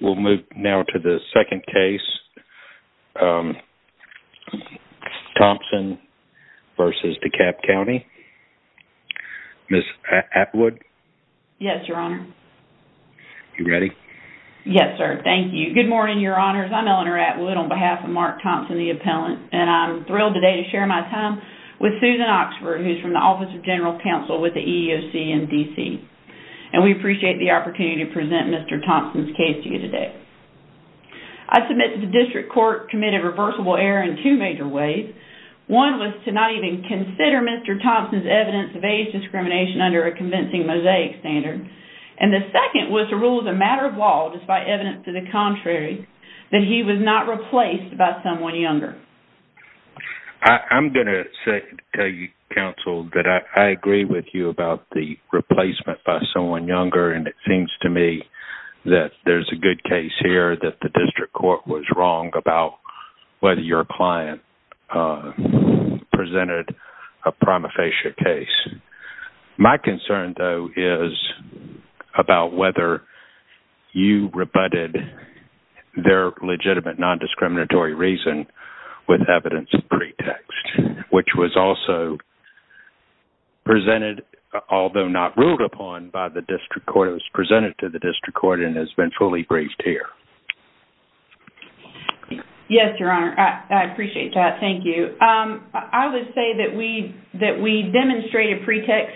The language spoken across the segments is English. We'll move now to the second case, Thompson v. DeKalb County. Ms. Atwood. Yes, Your Honor. You ready? Yes, sir. Thank you. Good morning, Your Honors. I'm Eleanor Atwood on behalf of Mark Thompson, the appellant, and I'm thrilled today to share my time with Susan Oxford, who's from the Office of General Counsel with the EEOC in DC, and we appreciate the opportunity to present Mr. Thompson's case to you today. I submit that the district court committed reversible error in two major ways. One was to not even consider Mr. Thompson's evidence of age discrimination under a convincing mosaic standard, and the second was to rule as a matter of law, despite evidence to the contrary, that he was not replaced by someone younger, and it seems to me that there's a good case here that the district court was wrong about whether your client presented a prima facie case. My concern, though, is about whether you rebutted their legitimate non-discriminatory reason with evidence of pretext, which was also presented, although not ruled upon, by the district court. It was presented to the district court and has been fully briefed here. Yes, Your Honor. I appreciate that. Thank you. I would say that we demonstrate a pretext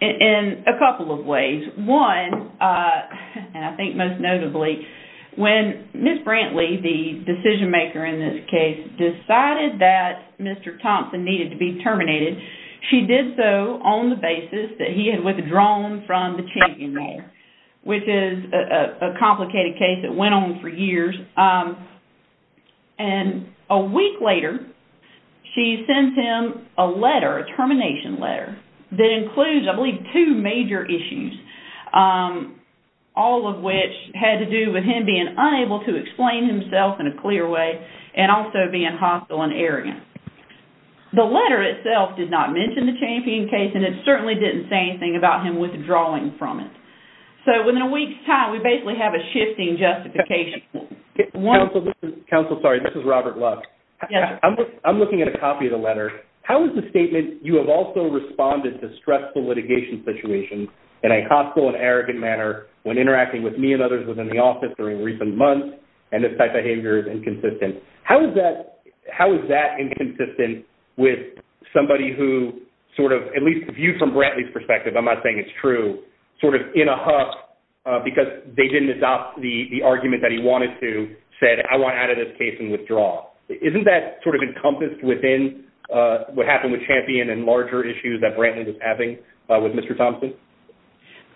in a couple of ways. One, and I think most notably, when Ms. Brantley, the decision-maker in this case, decided that Mr. Thompson needed to be terminated, she did so on the basis that he had withdrawn from the champion role, which is a complicated case that went on for years, and a week later she sends him a letter, a termination letter, that all of which had to do with him being unable to explain himself in a clear way and also being hostile and arrogant. The letter itself did not mention the champion case and it certainly didn't say anything about him withdrawing from it. So, within a week's time, we basically have a shifting justification. Counsel, sorry, this is Robert Lux. I'm looking at a copy of the letter. How is the statement, you have also responded to stressful litigation situations in a hostile and arrogant manner when interacting with me and others within the office during recent months, and this type of behavior is inconsistent. How is that inconsistent with somebody who sort of, at least viewed from Brantley's perspective, I'm not saying it's true, sort of in a huff because they didn't adopt the argument that he wanted to, said, I want out of this case and withdraw. Isn't that sort of encompassed within what happened with champion and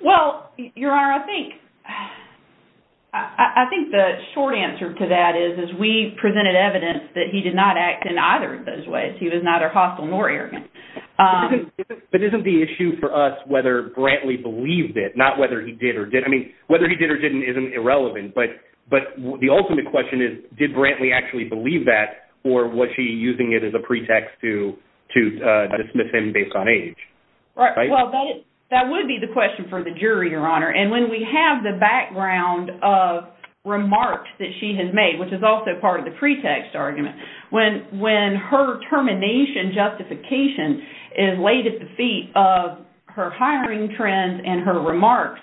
Well, your honor, I think the short answer to that is we presented evidence that he did not act in either of those ways. He was neither hostile nor arrogant. But isn't the issue for us whether Brantley believed it, not whether he did or didn't. I mean, whether he did or didn't isn't irrelevant, but the ultimate question is, did Brantley actually believe that or was he using it as a pretext to dismiss him based on age? Right, well, that would be the jury, your honor, and when we have the background of remarks that she has made, which is also part of the pretext argument, when her termination justification is laid at the feet of her hiring trends and her remarks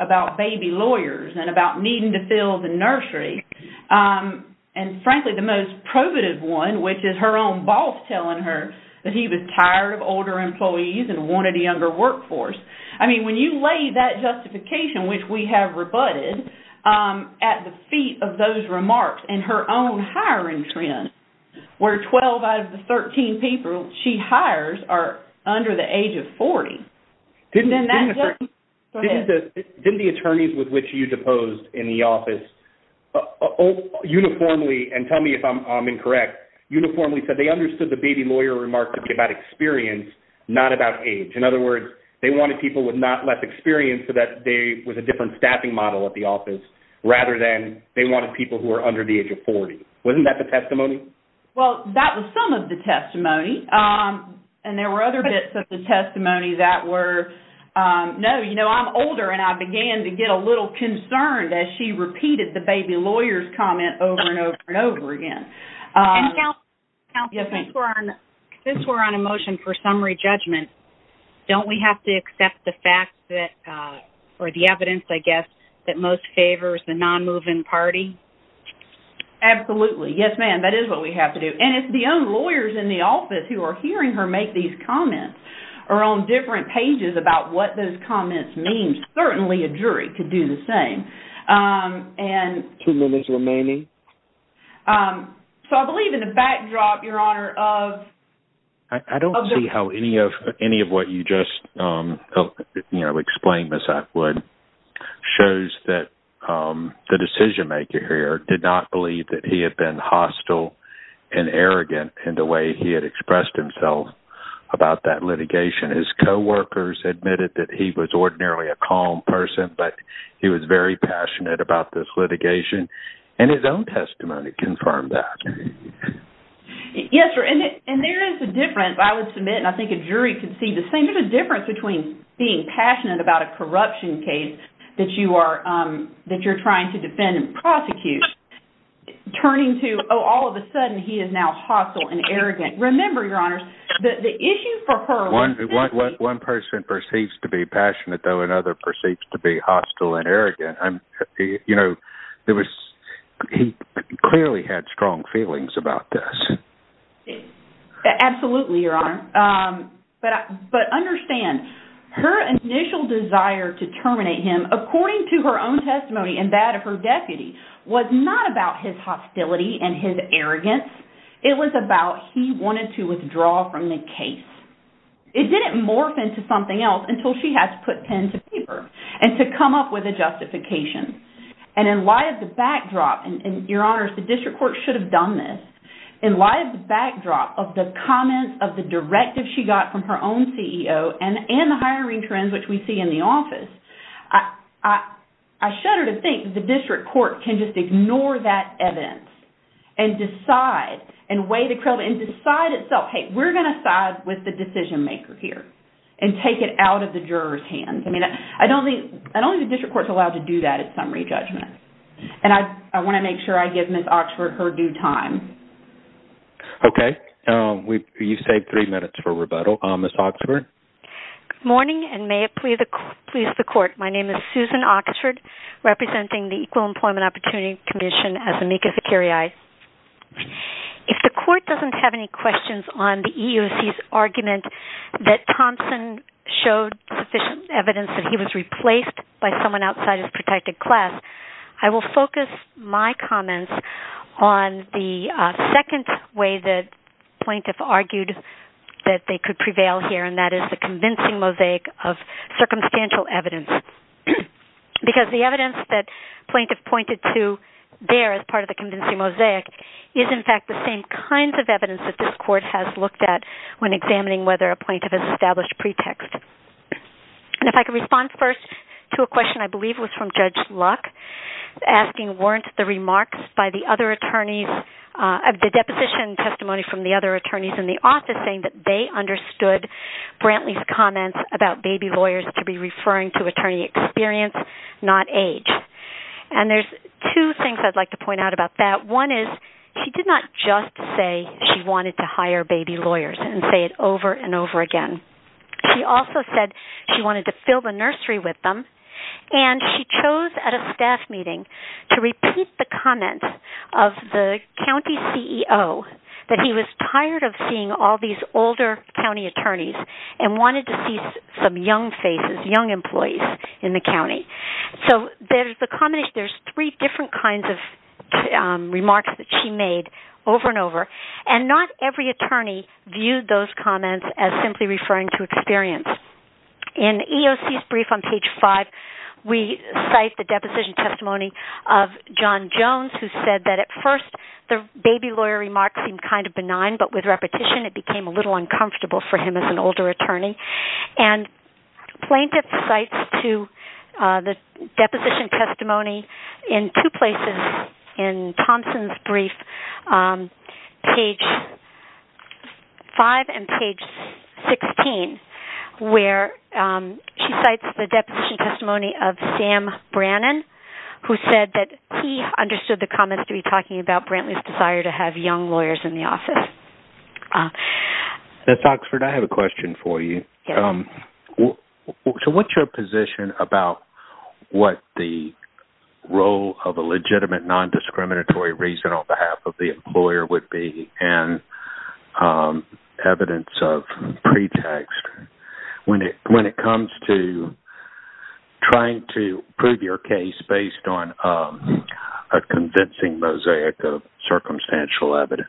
about baby lawyers and about needing to fill the nursery, and frankly the most probative one, which is her own boss telling her that he was tired of older employees and that justification, which we have rebutted, at the feet of those remarks and her own hiring trend, where 12 out of the 13 people she hires are under the age of 40. Didn't the attorneys with which you deposed in the office uniformly, and tell me if I'm incorrect, uniformly said they understood the baby lawyer remark to be about experience, not about age. In other words, they wanted people with not less experience so that there was a different staffing model at the office, rather than they wanted people who are under the age of 40. Wasn't that the testimony? Well, that was some of the testimony, and there were other bits of the testimony that were, no, you know, I'm older and I began to get a little concerned as she repeated the baby lawyers comment over and over and over again. Counsel, since we're on a motion for summary judgment, don't we have to accept the fact that, or the evidence, I guess, that most favors the non-moving party? Absolutely. Yes, ma'am, that is what we have to do. And if the own lawyers in the office who are hearing her make these comments are on different pages about what those comments mean, certainly a jury could do the same. Two minutes remaining. So, I believe in the backdrop, Your Honor, of... I don't see how any of what you just, you know, explained, Ms. Atwood, shows that the decision-maker here did not believe that he had been hostile and arrogant in the way he had expressed himself about that litigation. His co-workers admitted that he was ordinarily a calm person, but he was very passionate about this litigation, and his own testimony confirmed that. Yes, and there is a difference, I would submit, and I think a jury could see the same difference between being passionate about a corruption case that you are, that you're trying to defend and prosecute, turning to, oh, all of a sudden he is now hostile and arrogant. Remember, Your Honors, the issue for her... One person perceives to be passionate, though another perceives to be hostile and arrogant. Absolutely, Your Honor, but understand, her initial desire to terminate him, according to her own testimony and that of her deputy, was not about his hostility and his arrogance. It was about he wanted to withdraw from the case. It didn't morph into something else until she had to put pen to paper and to come up with a justification, and in light of the backdrop, and Your Honors, the backdrop of the comments, of the directive she got from her own CEO, and the hiring trends which we see in the office, I shudder to think the district court can just ignore that evidence, and decide, and weigh the credit, and decide itself, hey, we're going to side with the decision maker here, and take it out of the jurors' hands. I mean, I don't think the district court is allowed to do that at summary judgment, and I want to make sure I give Ms. Oxford her due time. Okay, you've saved three minutes for rebuttal. Ms. Oxford? Good morning, and may it please the court, my name is Susan Oxford, representing the Equal Employment Opportunity Commission as amicus vicariae. If the court doesn't have any questions on the EEOC's argument that Thompson showed sufficient evidence that he was replaced by someone outside his protected class, I will focus my comments on the second way that plaintiff argued that they could prevail here, and that is the convincing mosaic of circumstantial evidence. Because the evidence that plaintiff pointed to there, as part of the convincing mosaic, is in fact the same kinds of evidence that this court has looked at when examining whether a plaintiff has established pretext. And if I could respond first to a question I the deposition testimony from the other attorneys in the office saying that they understood Brantley's comments about baby lawyers to be referring to attorney experience, not age. And there's two things I'd like to point out about that. One is, she did not just say she wanted to hire baby lawyers and say it over and over again. She also said she wanted to fill the nursery with them, and she chose at a staff meeting to repeat the comments of the county CEO that he was tired of seeing all these older county attorneys and wanted to see some young faces, young employees in the county. So there's three different kinds of remarks that she made over and over, and not every attorney viewed those comments as simply referring to experience. In EEOC's brief on page 5, we cite the deposition testimony of John Jones, who said that at first the baby lawyer remark seemed kind of benign, but with repetition it became a little uncomfortable for him as an older attorney. And plaintiff cites to the deposition testimony in two places in Thompson's brief, page 5 and page 16, where she cites the deposition testimony of Sam Brannan, who said that he understood the comments to be talking about Brantley's desire to have young lawyers in the office. Ms. Oxford, I have a question for you. So what's your position about what the role of a legitimate non-discriminatory reason on evidence of pretext when it comes to trying to prove your case based on a convincing mosaic of circumstantial evidence?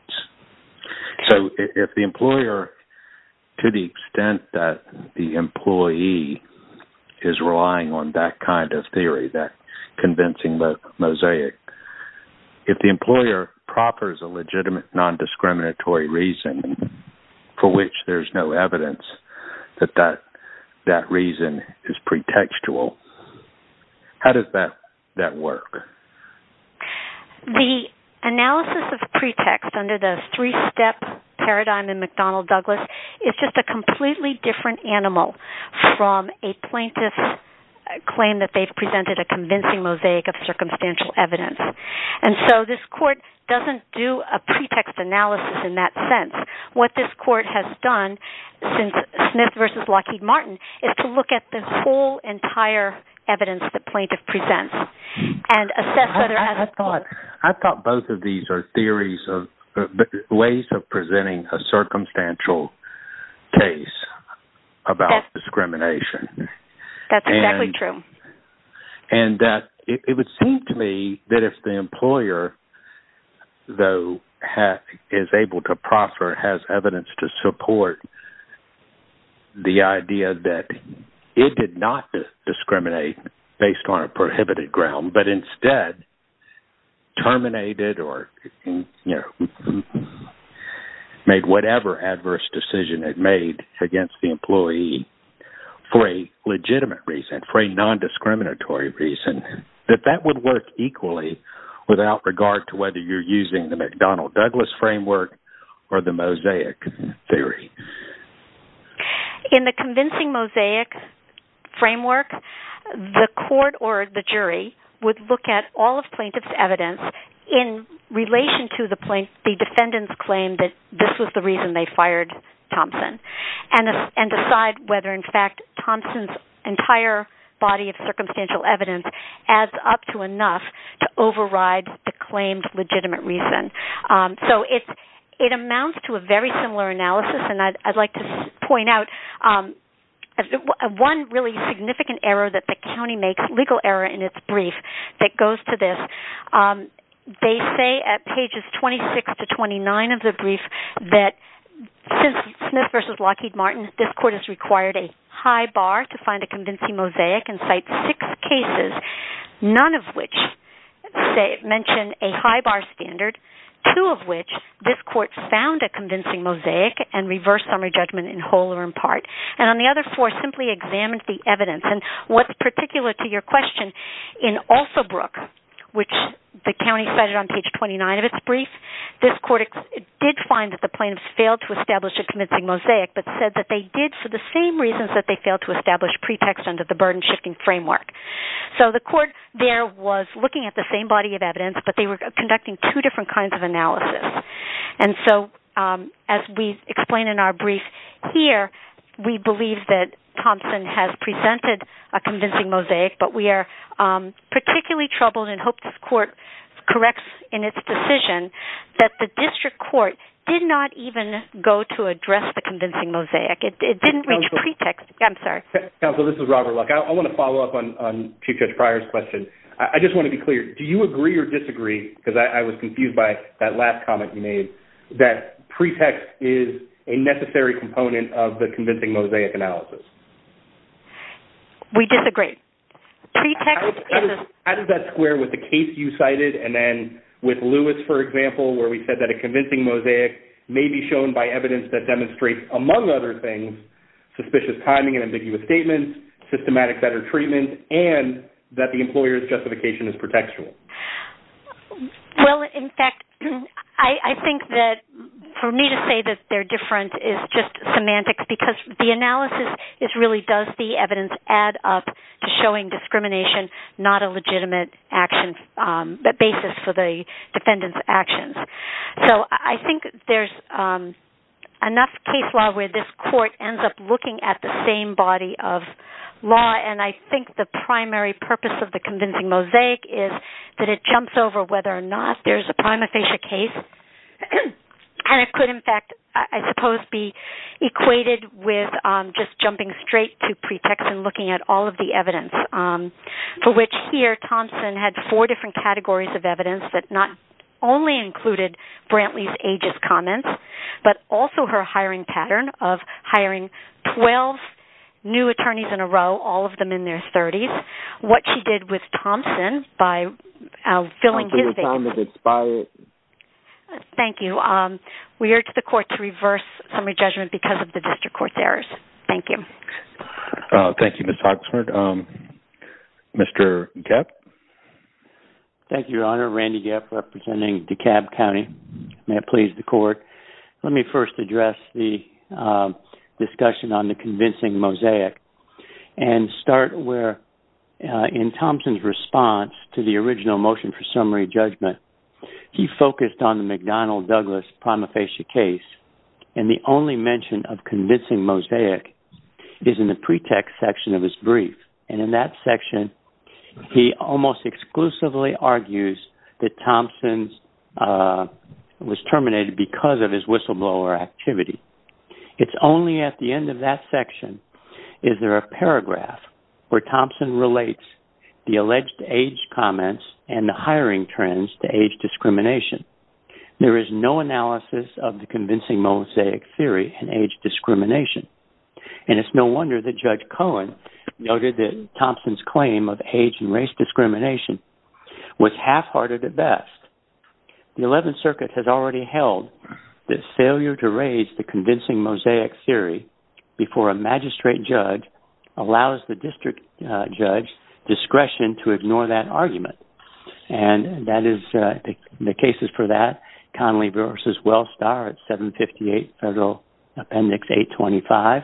So if the employer, to the extent that the employee is relying on that kind of theory, that convincing mosaic, if the employer proffers a legitimate non-discriminatory reason for which there's no evidence that that reason is pretextual, how does that work? The analysis of pretext under the three-step paradigm in McDonnell- Douglas is just a completely different animal from a plaintiff's claim that they've presented a convincing mosaic of circumstantial evidence. And so this court doesn't do a pretext analysis in that sense. What this court has done since Smith v. Lockheed Martin is to look at the whole entire evidence the plaintiff presents. I thought both of these are theories of ways of and that it would seem to me that if the employer, though, is able to proffer, has evidence to support the idea that it did not discriminate based on a prohibited ground, but instead terminated or made whatever adverse decision it made against the employee for a legitimate reason, for a non-discriminatory reason, that that would work equally without regard to whether you're using the McDonnell-Douglas framework or the mosaic theory. In the convincing mosaic framework, the court or the jury would look at all of plaintiff's evidence in relation to the defendant's claim that this was the reason they and decide whether in fact Thompson's entire body of circumstantial evidence adds up to enough to override the claimed legitimate reason. So it amounts to a very similar analysis and I'd like to point out one really significant error that the county makes, legal error in its brief, that goes to this. They say at pages 26 to 29 of the brief that since Smith v. Lockheed Martin, this court has required a high bar to find a convincing mosaic and cite six cases, none of which mention a high bar standard, two of which this court found a convincing mosaic and reversed summary judgment in whole or in part, and on the other four simply examined the evidence. And what's particular to your question, in Alsobrook, which the county cited on page 29 of its brief, this court did find that the plaintiffs failed to establish a pretext, but said that they did for the same reasons that they failed to establish pretext under the burden-shifting framework. So the court there was looking at the same body of evidence, but they were conducting two different kinds of analysis. And so as we explain in our brief here, we believe that Thompson has presented a convincing mosaic, but we are particularly troubled and hope this court corrects in its decision that the district court did not even go to address the convincing mosaic. It didn't reach pretext. I'm sorry. Counsel, this is Robert Luck. I want to follow up on Chief Judge Pryor's question. I just want to be clear, do you agree or disagree, because I was confused by that last comment you made, that pretext is a necessary component of the convincing mosaic analysis? We disagree. How does that square with the case you cited and then with Lewis, for example, where we said that a convincing mosaic may be shown by evidence that demonstrates, among other things, suspicious timing and ambiguous statements, systematic better treatment, and that the employer's justification is pretextual? Well, in fact, I think that for me to say that they're different is just semantics, because the analysis is really does the evidence add up to showing discrimination not a legitimate basis for the defendant's actions. So I think there's enough case law where this court ends up looking at the same body of law, and I think the primary purpose of the convincing mosaic is that it jumps over whether or not there's a prima facie case, and it could, in fact, I suppose, be equated with just jumping straight to pretext and looking at all of the evidence, for which here Thompson had four different categories of evidence that not only included Brantley's ageist comments, but also her hiring pattern of hiring 12 new attorneys in a row, all of them in their 30s, what she did with Thompson by filling his vacancy. Thank you. We are to the court to reverse summary judgment because of the district court's errors. Thank you. Thank you, Ms. Thank you, Your Honor. Randy Gepp, representing DeKalb County. May it please the court, let me first address the discussion on the convincing mosaic and start where in Thompson's response to the original motion for summary judgment, he focused on the McDonnell Douglas prima facie case, and the only mention of convincing mosaic is in the pretext section of his brief, and in that section he almost exclusively argues that Thompson's was terminated because of his whistleblower activity. It's only at the end of that section is there a paragraph where Thompson relates the alleged age comments and the hiring trends to age discrimination. There is no analysis of the convincing mosaic theory in age of age and race discrimination was half-hearted at best. The 11th Circuit has already held that failure to raise the convincing mosaic theory before a magistrate judge allows the district judge discretion to ignore that argument, and that is the cases for that. Connelly versus Wellstar at 758 Federal Appendix 825,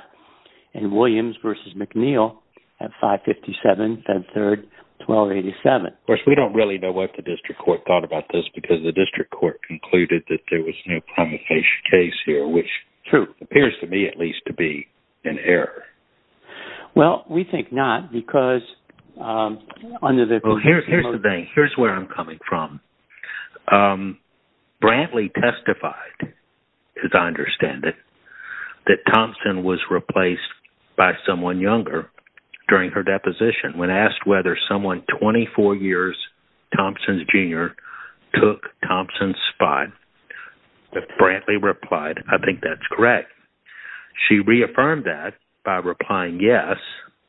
and Williams versus McNeil at 557 Fed Third 1287. Of course, we don't really know what the district court thought about this because the district court concluded that there was no prima facie case here, which true appears to me at least to be an error. Well, we think not because under the... Here's the thing, here's where I'm coming from. Brantley testified, as I understand it, that Thompson was replaced by someone younger during her deposition. When asked whether someone 24 years Thompson's junior took Thompson's spot, Brantley replied, I think that's correct. She reaffirmed that by replying yes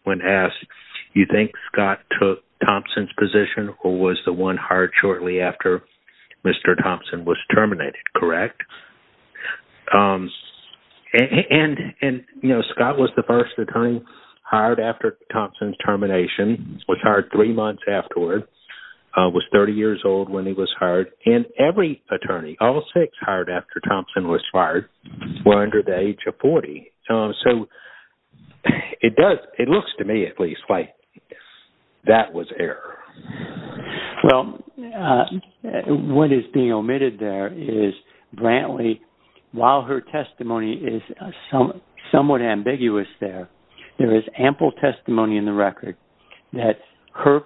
when asked, you think Scott took Thompson's position or was the one hired shortly after Mr. Thompson was terminated, correct? And, you know, Scott was the first attorney hired after Thompson's termination, was hired three months afterward, was 30 years old when he was hired, and every attorney, all six hired after Thompson was hired were under the age of 40. So it does, it looks to me at least, like that was error. Well, what is being omitted there is Brantley, while her testimony is somewhat ambiguous there, there is ample testimony in the record that her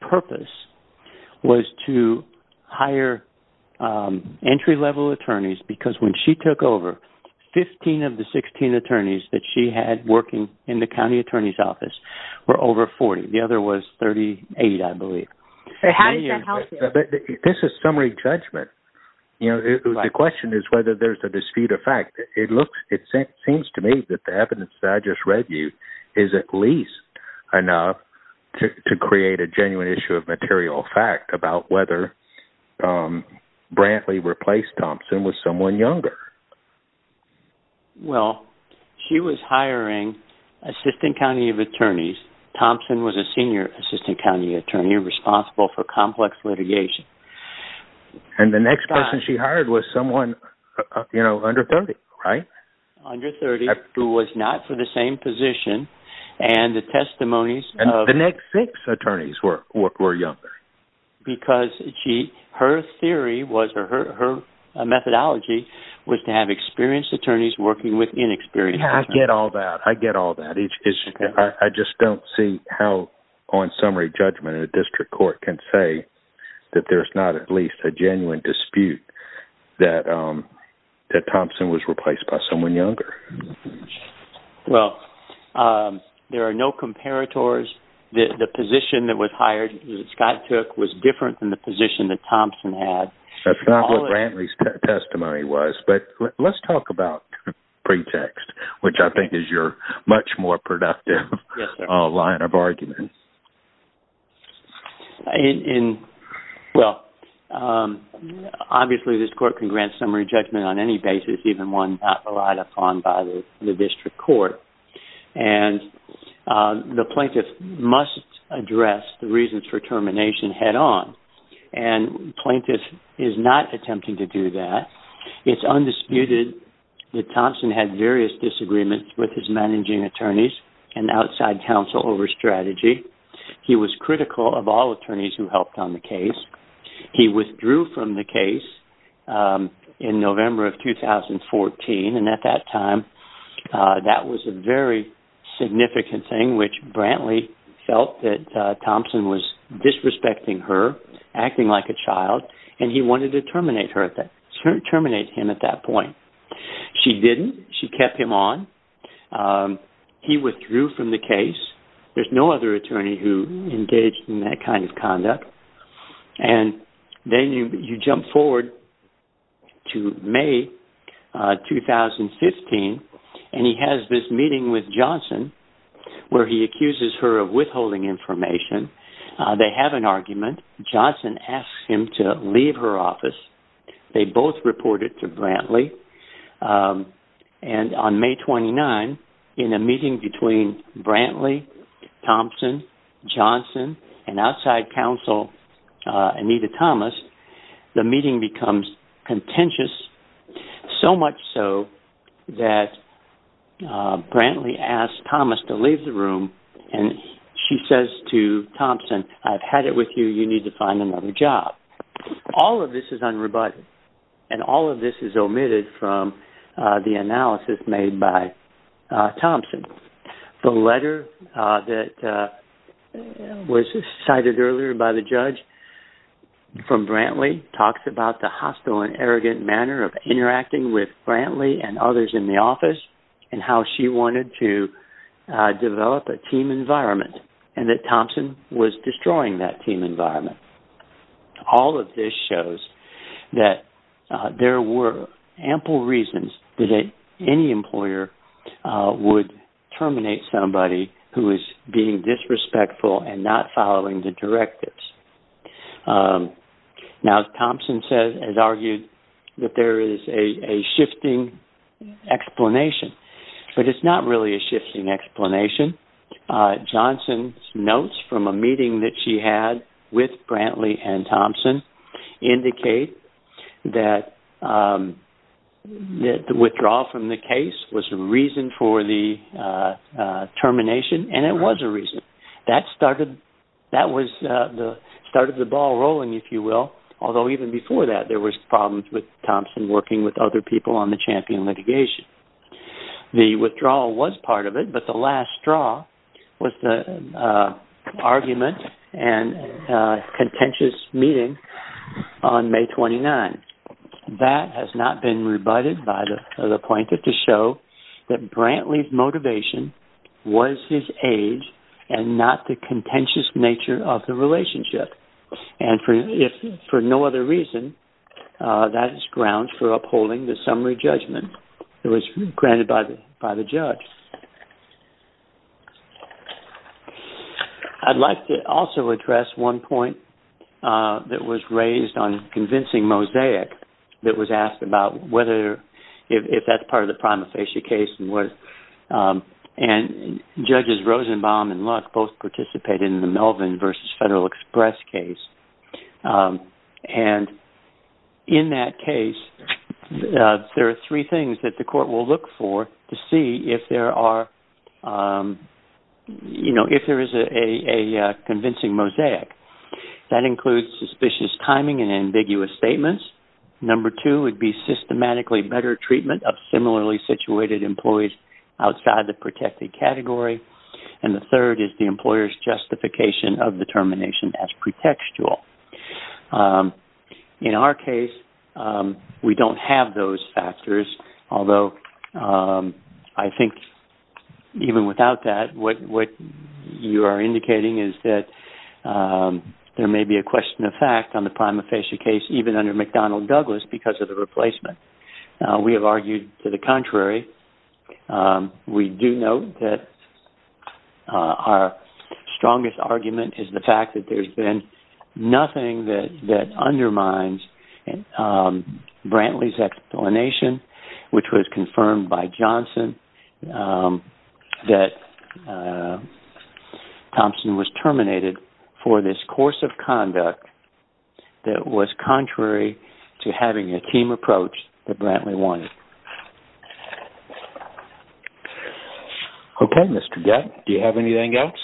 purpose was to hire entry-level attorneys because when she took over, 15 of the 16 attorneys that she had working in the county attorney's office were over 40. The other was 38, I believe. This is summary judgment, you know, the question is whether there's a dispute of fact. It looks, it seems to me that the to create a genuine issue of material fact about whether Brantley replaced Thompson was someone younger. Well, she was hiring assistant county of attorneys. Thompson was a senior assistant county attorney responsible for complex litigation. And the next person she hired was someone, you know, under 30, right? Under 30, who was not for the same position, and the testimonies of... And the next six attorneys were younger. Because she, her theory was, her methodology was to have experienced attorneys working with inexperienced attorneys. Yeah, I get all that, I get all that. I just don't see how on summary judgment a district court can say that there's not at least a genuine dispute that Thompson was replaced by someone younger. Well, there are no comparators. The position that was hired, that Scott took, was different than the position that Thompson had. That's not what Brantley's testimony was. But let's talk about pretext, which I think is your much more productive line of argument. Well, obviously this court can grant summary judgment on any basis, even one not relied upon by the district court. And the plaintiff must address the reasons for termination head-on. And plaintiff is not attempting to do that. It's undisputed that Thompson had various disagreements with his managing attorneys and outside counsel over strategy. He was critical of all attorneys who helped on the case. He withdrew from the case in November of 2014. And at that time, that was a very significant thing, which Brantley felt that Thompson was disrespecting her, acting like a child, and he wanted to terminate her at that, terminate him at that point. She didn't. She kept him on. He withdrew from the case. There's no other attorney who engaged in that kind of conduct. And then you jump forward to May 2015, and he has this meeting with Johnson, where he accuses her of withholding information. They have an argument. Johnson asks him to leave her office. They both reported to Brantley. And on May 29, in a meeting between Brantley, Thompson, Johnson, and outside counsel Anita Thomas, the meeting becomes contentious, so much so that Brantley asked Thomas to leave the room, and she says to Thompson, I've had it with you. You need to find another job. All of this is Thompson. The letter that was cited earlier by the judge from Brantley talks about the hostile and arrogant manner of interacting with Brantley and others in the office, and how she wanted to develop a team environment, and that Thompson was destroying that team environment. All of this shows that there were ample reasons that any employer would terminate somebody who is being disrespectful and not following the directives. Now, Thompson has argued that there is a shifting explanation, but it's not really a shifting explanation. Johnson notes from a meeting that she had with Brantley and Thompson indicate that the withdrawal from the case was a reason for the termination, and it was a reason. That started the ball rolling, if you will, although even before that there were problems with Thompson working with other people on the champion litigation. The withdrawal was part of it, but the last straw was the argument and contentious meeting on May 29. That has not been rebutted by the plaintiff to show that Brantley's motivation was his age and not the contentious nature of the relationship. For no other reason, that is ground for upholding the summary judgment that was granted by the judge. I'd like to also address one point that was raised on convincing Mosaic that was asked about whether if that's part of the prima facie case. Judges Rosenbaum and Luck both participated in the case. There are three things that the court will look for to see if there is a convincing Mosaic. That includes suspicious timing and ambiguous statements. Number two would be systematically better treatment of similarly situated employees outside the protected category. The third is the employer's justification of the termination as pretextual. In our case, we don't have those factors, although I think even without that, what you are indicating is that there may be a question of fact on the prima facie case even under McDonnell Douglas because of the replacement. We have argued to the contrary. We do know that our undermines Brantley's explanation, which was confirmed by Johnson that Thompson was terminated for this course of conduct that was contrary to having a team approach that Brantley wanted. Okay, Mr. Gett. Do you have anything else?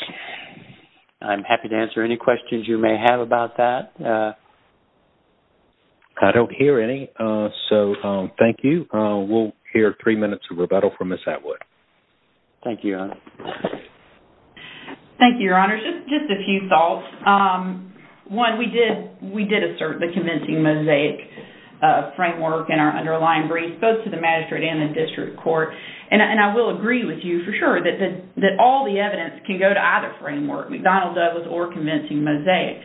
I'm happy to answer any questions you may have about that. I don't hear any, so thank you. We'll hear three minutes of rebuttal from Ms. Atwood. Thank you, Your Honor. Thank you, Your Honor. Just a few thoughts. One, we did assert the convincing Mosaic framework in our underlying brief, both to the magistrate and the district court, and I will agree with you for sure that all the evidence can go to either framework, McDonnell Douglas or convincing Mosaic.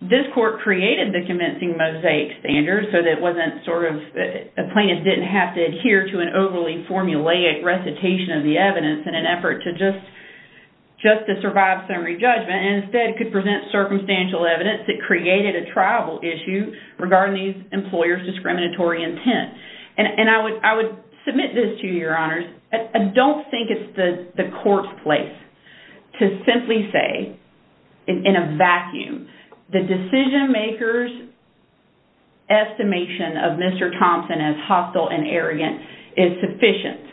This court created the convincing Mosaic standard so that a plaintiff didn't have to adhere to an overly formulaic recitation of the evidence in an effort just to survive summary judgment and instead could present circumstantial evidence that created a tribal issue regarding these employers' discriminatory intent. And I would submit this to you, Your Honors. I don't think it's the court's place to simply say in a vacuum the decision-maker's estimation of Mr. Thompson as hostile and arrogant is sufficient.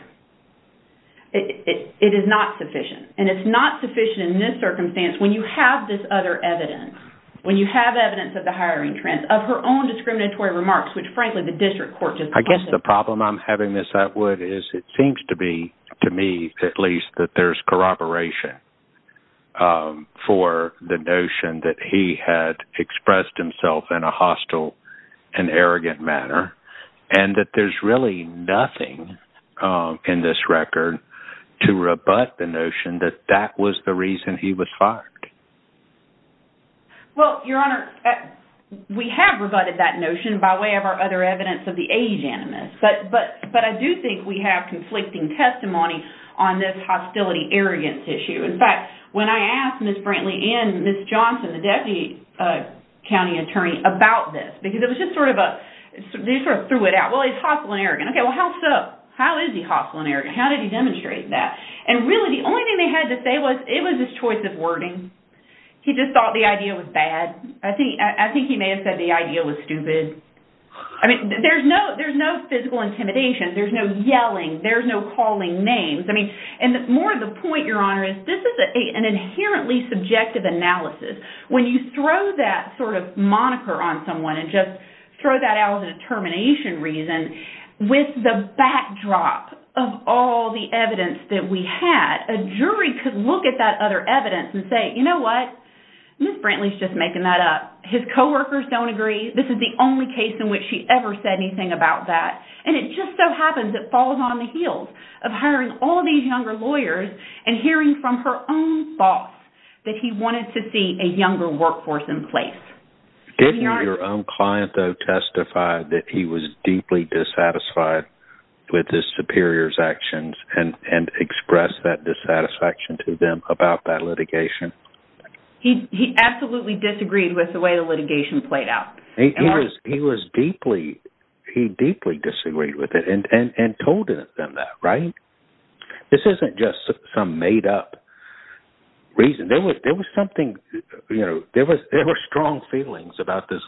It is not sufficient. And it's not sufficient in this circumstance when you have this other evidence, when you have evidence of the hiring trends, of her own discriminatory remarks, which, frankly, the district court just— I guess the problem I'm having, Ms. Atwood, is it seems to be, to me at least, that there's corroboration for the notion that he had expressed himself in a hostile and arrogant manner and that there's really nothing in this record to rebut the notion that that was the reason he was fired. Well, Your Honor, we have rebutted that notion by way of our other evidence of the age animus, but I do think we have conflicting testimony on this hostility-arrogance issue. In fact, when I asked Ms. Brantley and Ms. Johnson, the deputy county attorney, about this, because it was just sort of a— they sort of threw it out. Well, he's hostile and arrogant. Okay, well, how's that? How is he hostile and arrogant? How did he demonstrate that? And really, the only thing they had to say was it was his choice of wording. He just thought the idea was bad. I think he may have said the idea was stupid. I mean, there's no physical intimidation. There's no yelling. There's no calling names. I mean, and more of the point, Your Honor, is this is an inherently subjective analysis. When you throw that sort of moniker on someone and just the backdrop of all the evidence that we had, a jury could look at that other evidence and say, you know what? Ms. Brantley's just making that up. His coworkers don't agree. This is the only case in which she ever said anything about that. And it just so happens it falls on the heels of hiring all these younger lawyers and hearing from her own boss that he wanted to see a younger workforce in place. Didn't your own client, though, testify that he was deeply dissatisfied? With his superior's actions and express that dissatisfaction to them about that litigation? He absolutely disagreed with the way the litigation played out. He was deeply, he deeply disagreed with it and told them that, right? This isn't just some made up reason. There was something, you know, there were strong feelings about this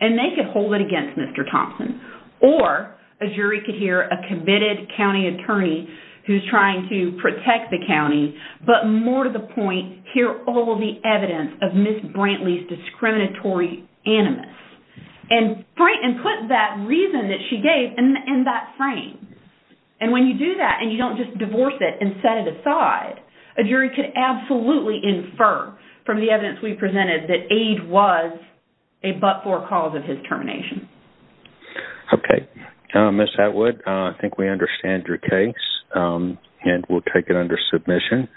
and they could hold it against Mr. Thompson. Or a jury could hear a committed county attorney who's trying to protect the county, but more to the point, hear all the evidence of Ms. Brantley's discriminatory animus and put that reason that she gave in that frame. And when you do that and you don't just divorce it and set it aside, a jury could absolutely infer from the evidence we have a but-for cause of his termination. Okay. Ms. Atwood, I think we understand your case and we'll take it under submission.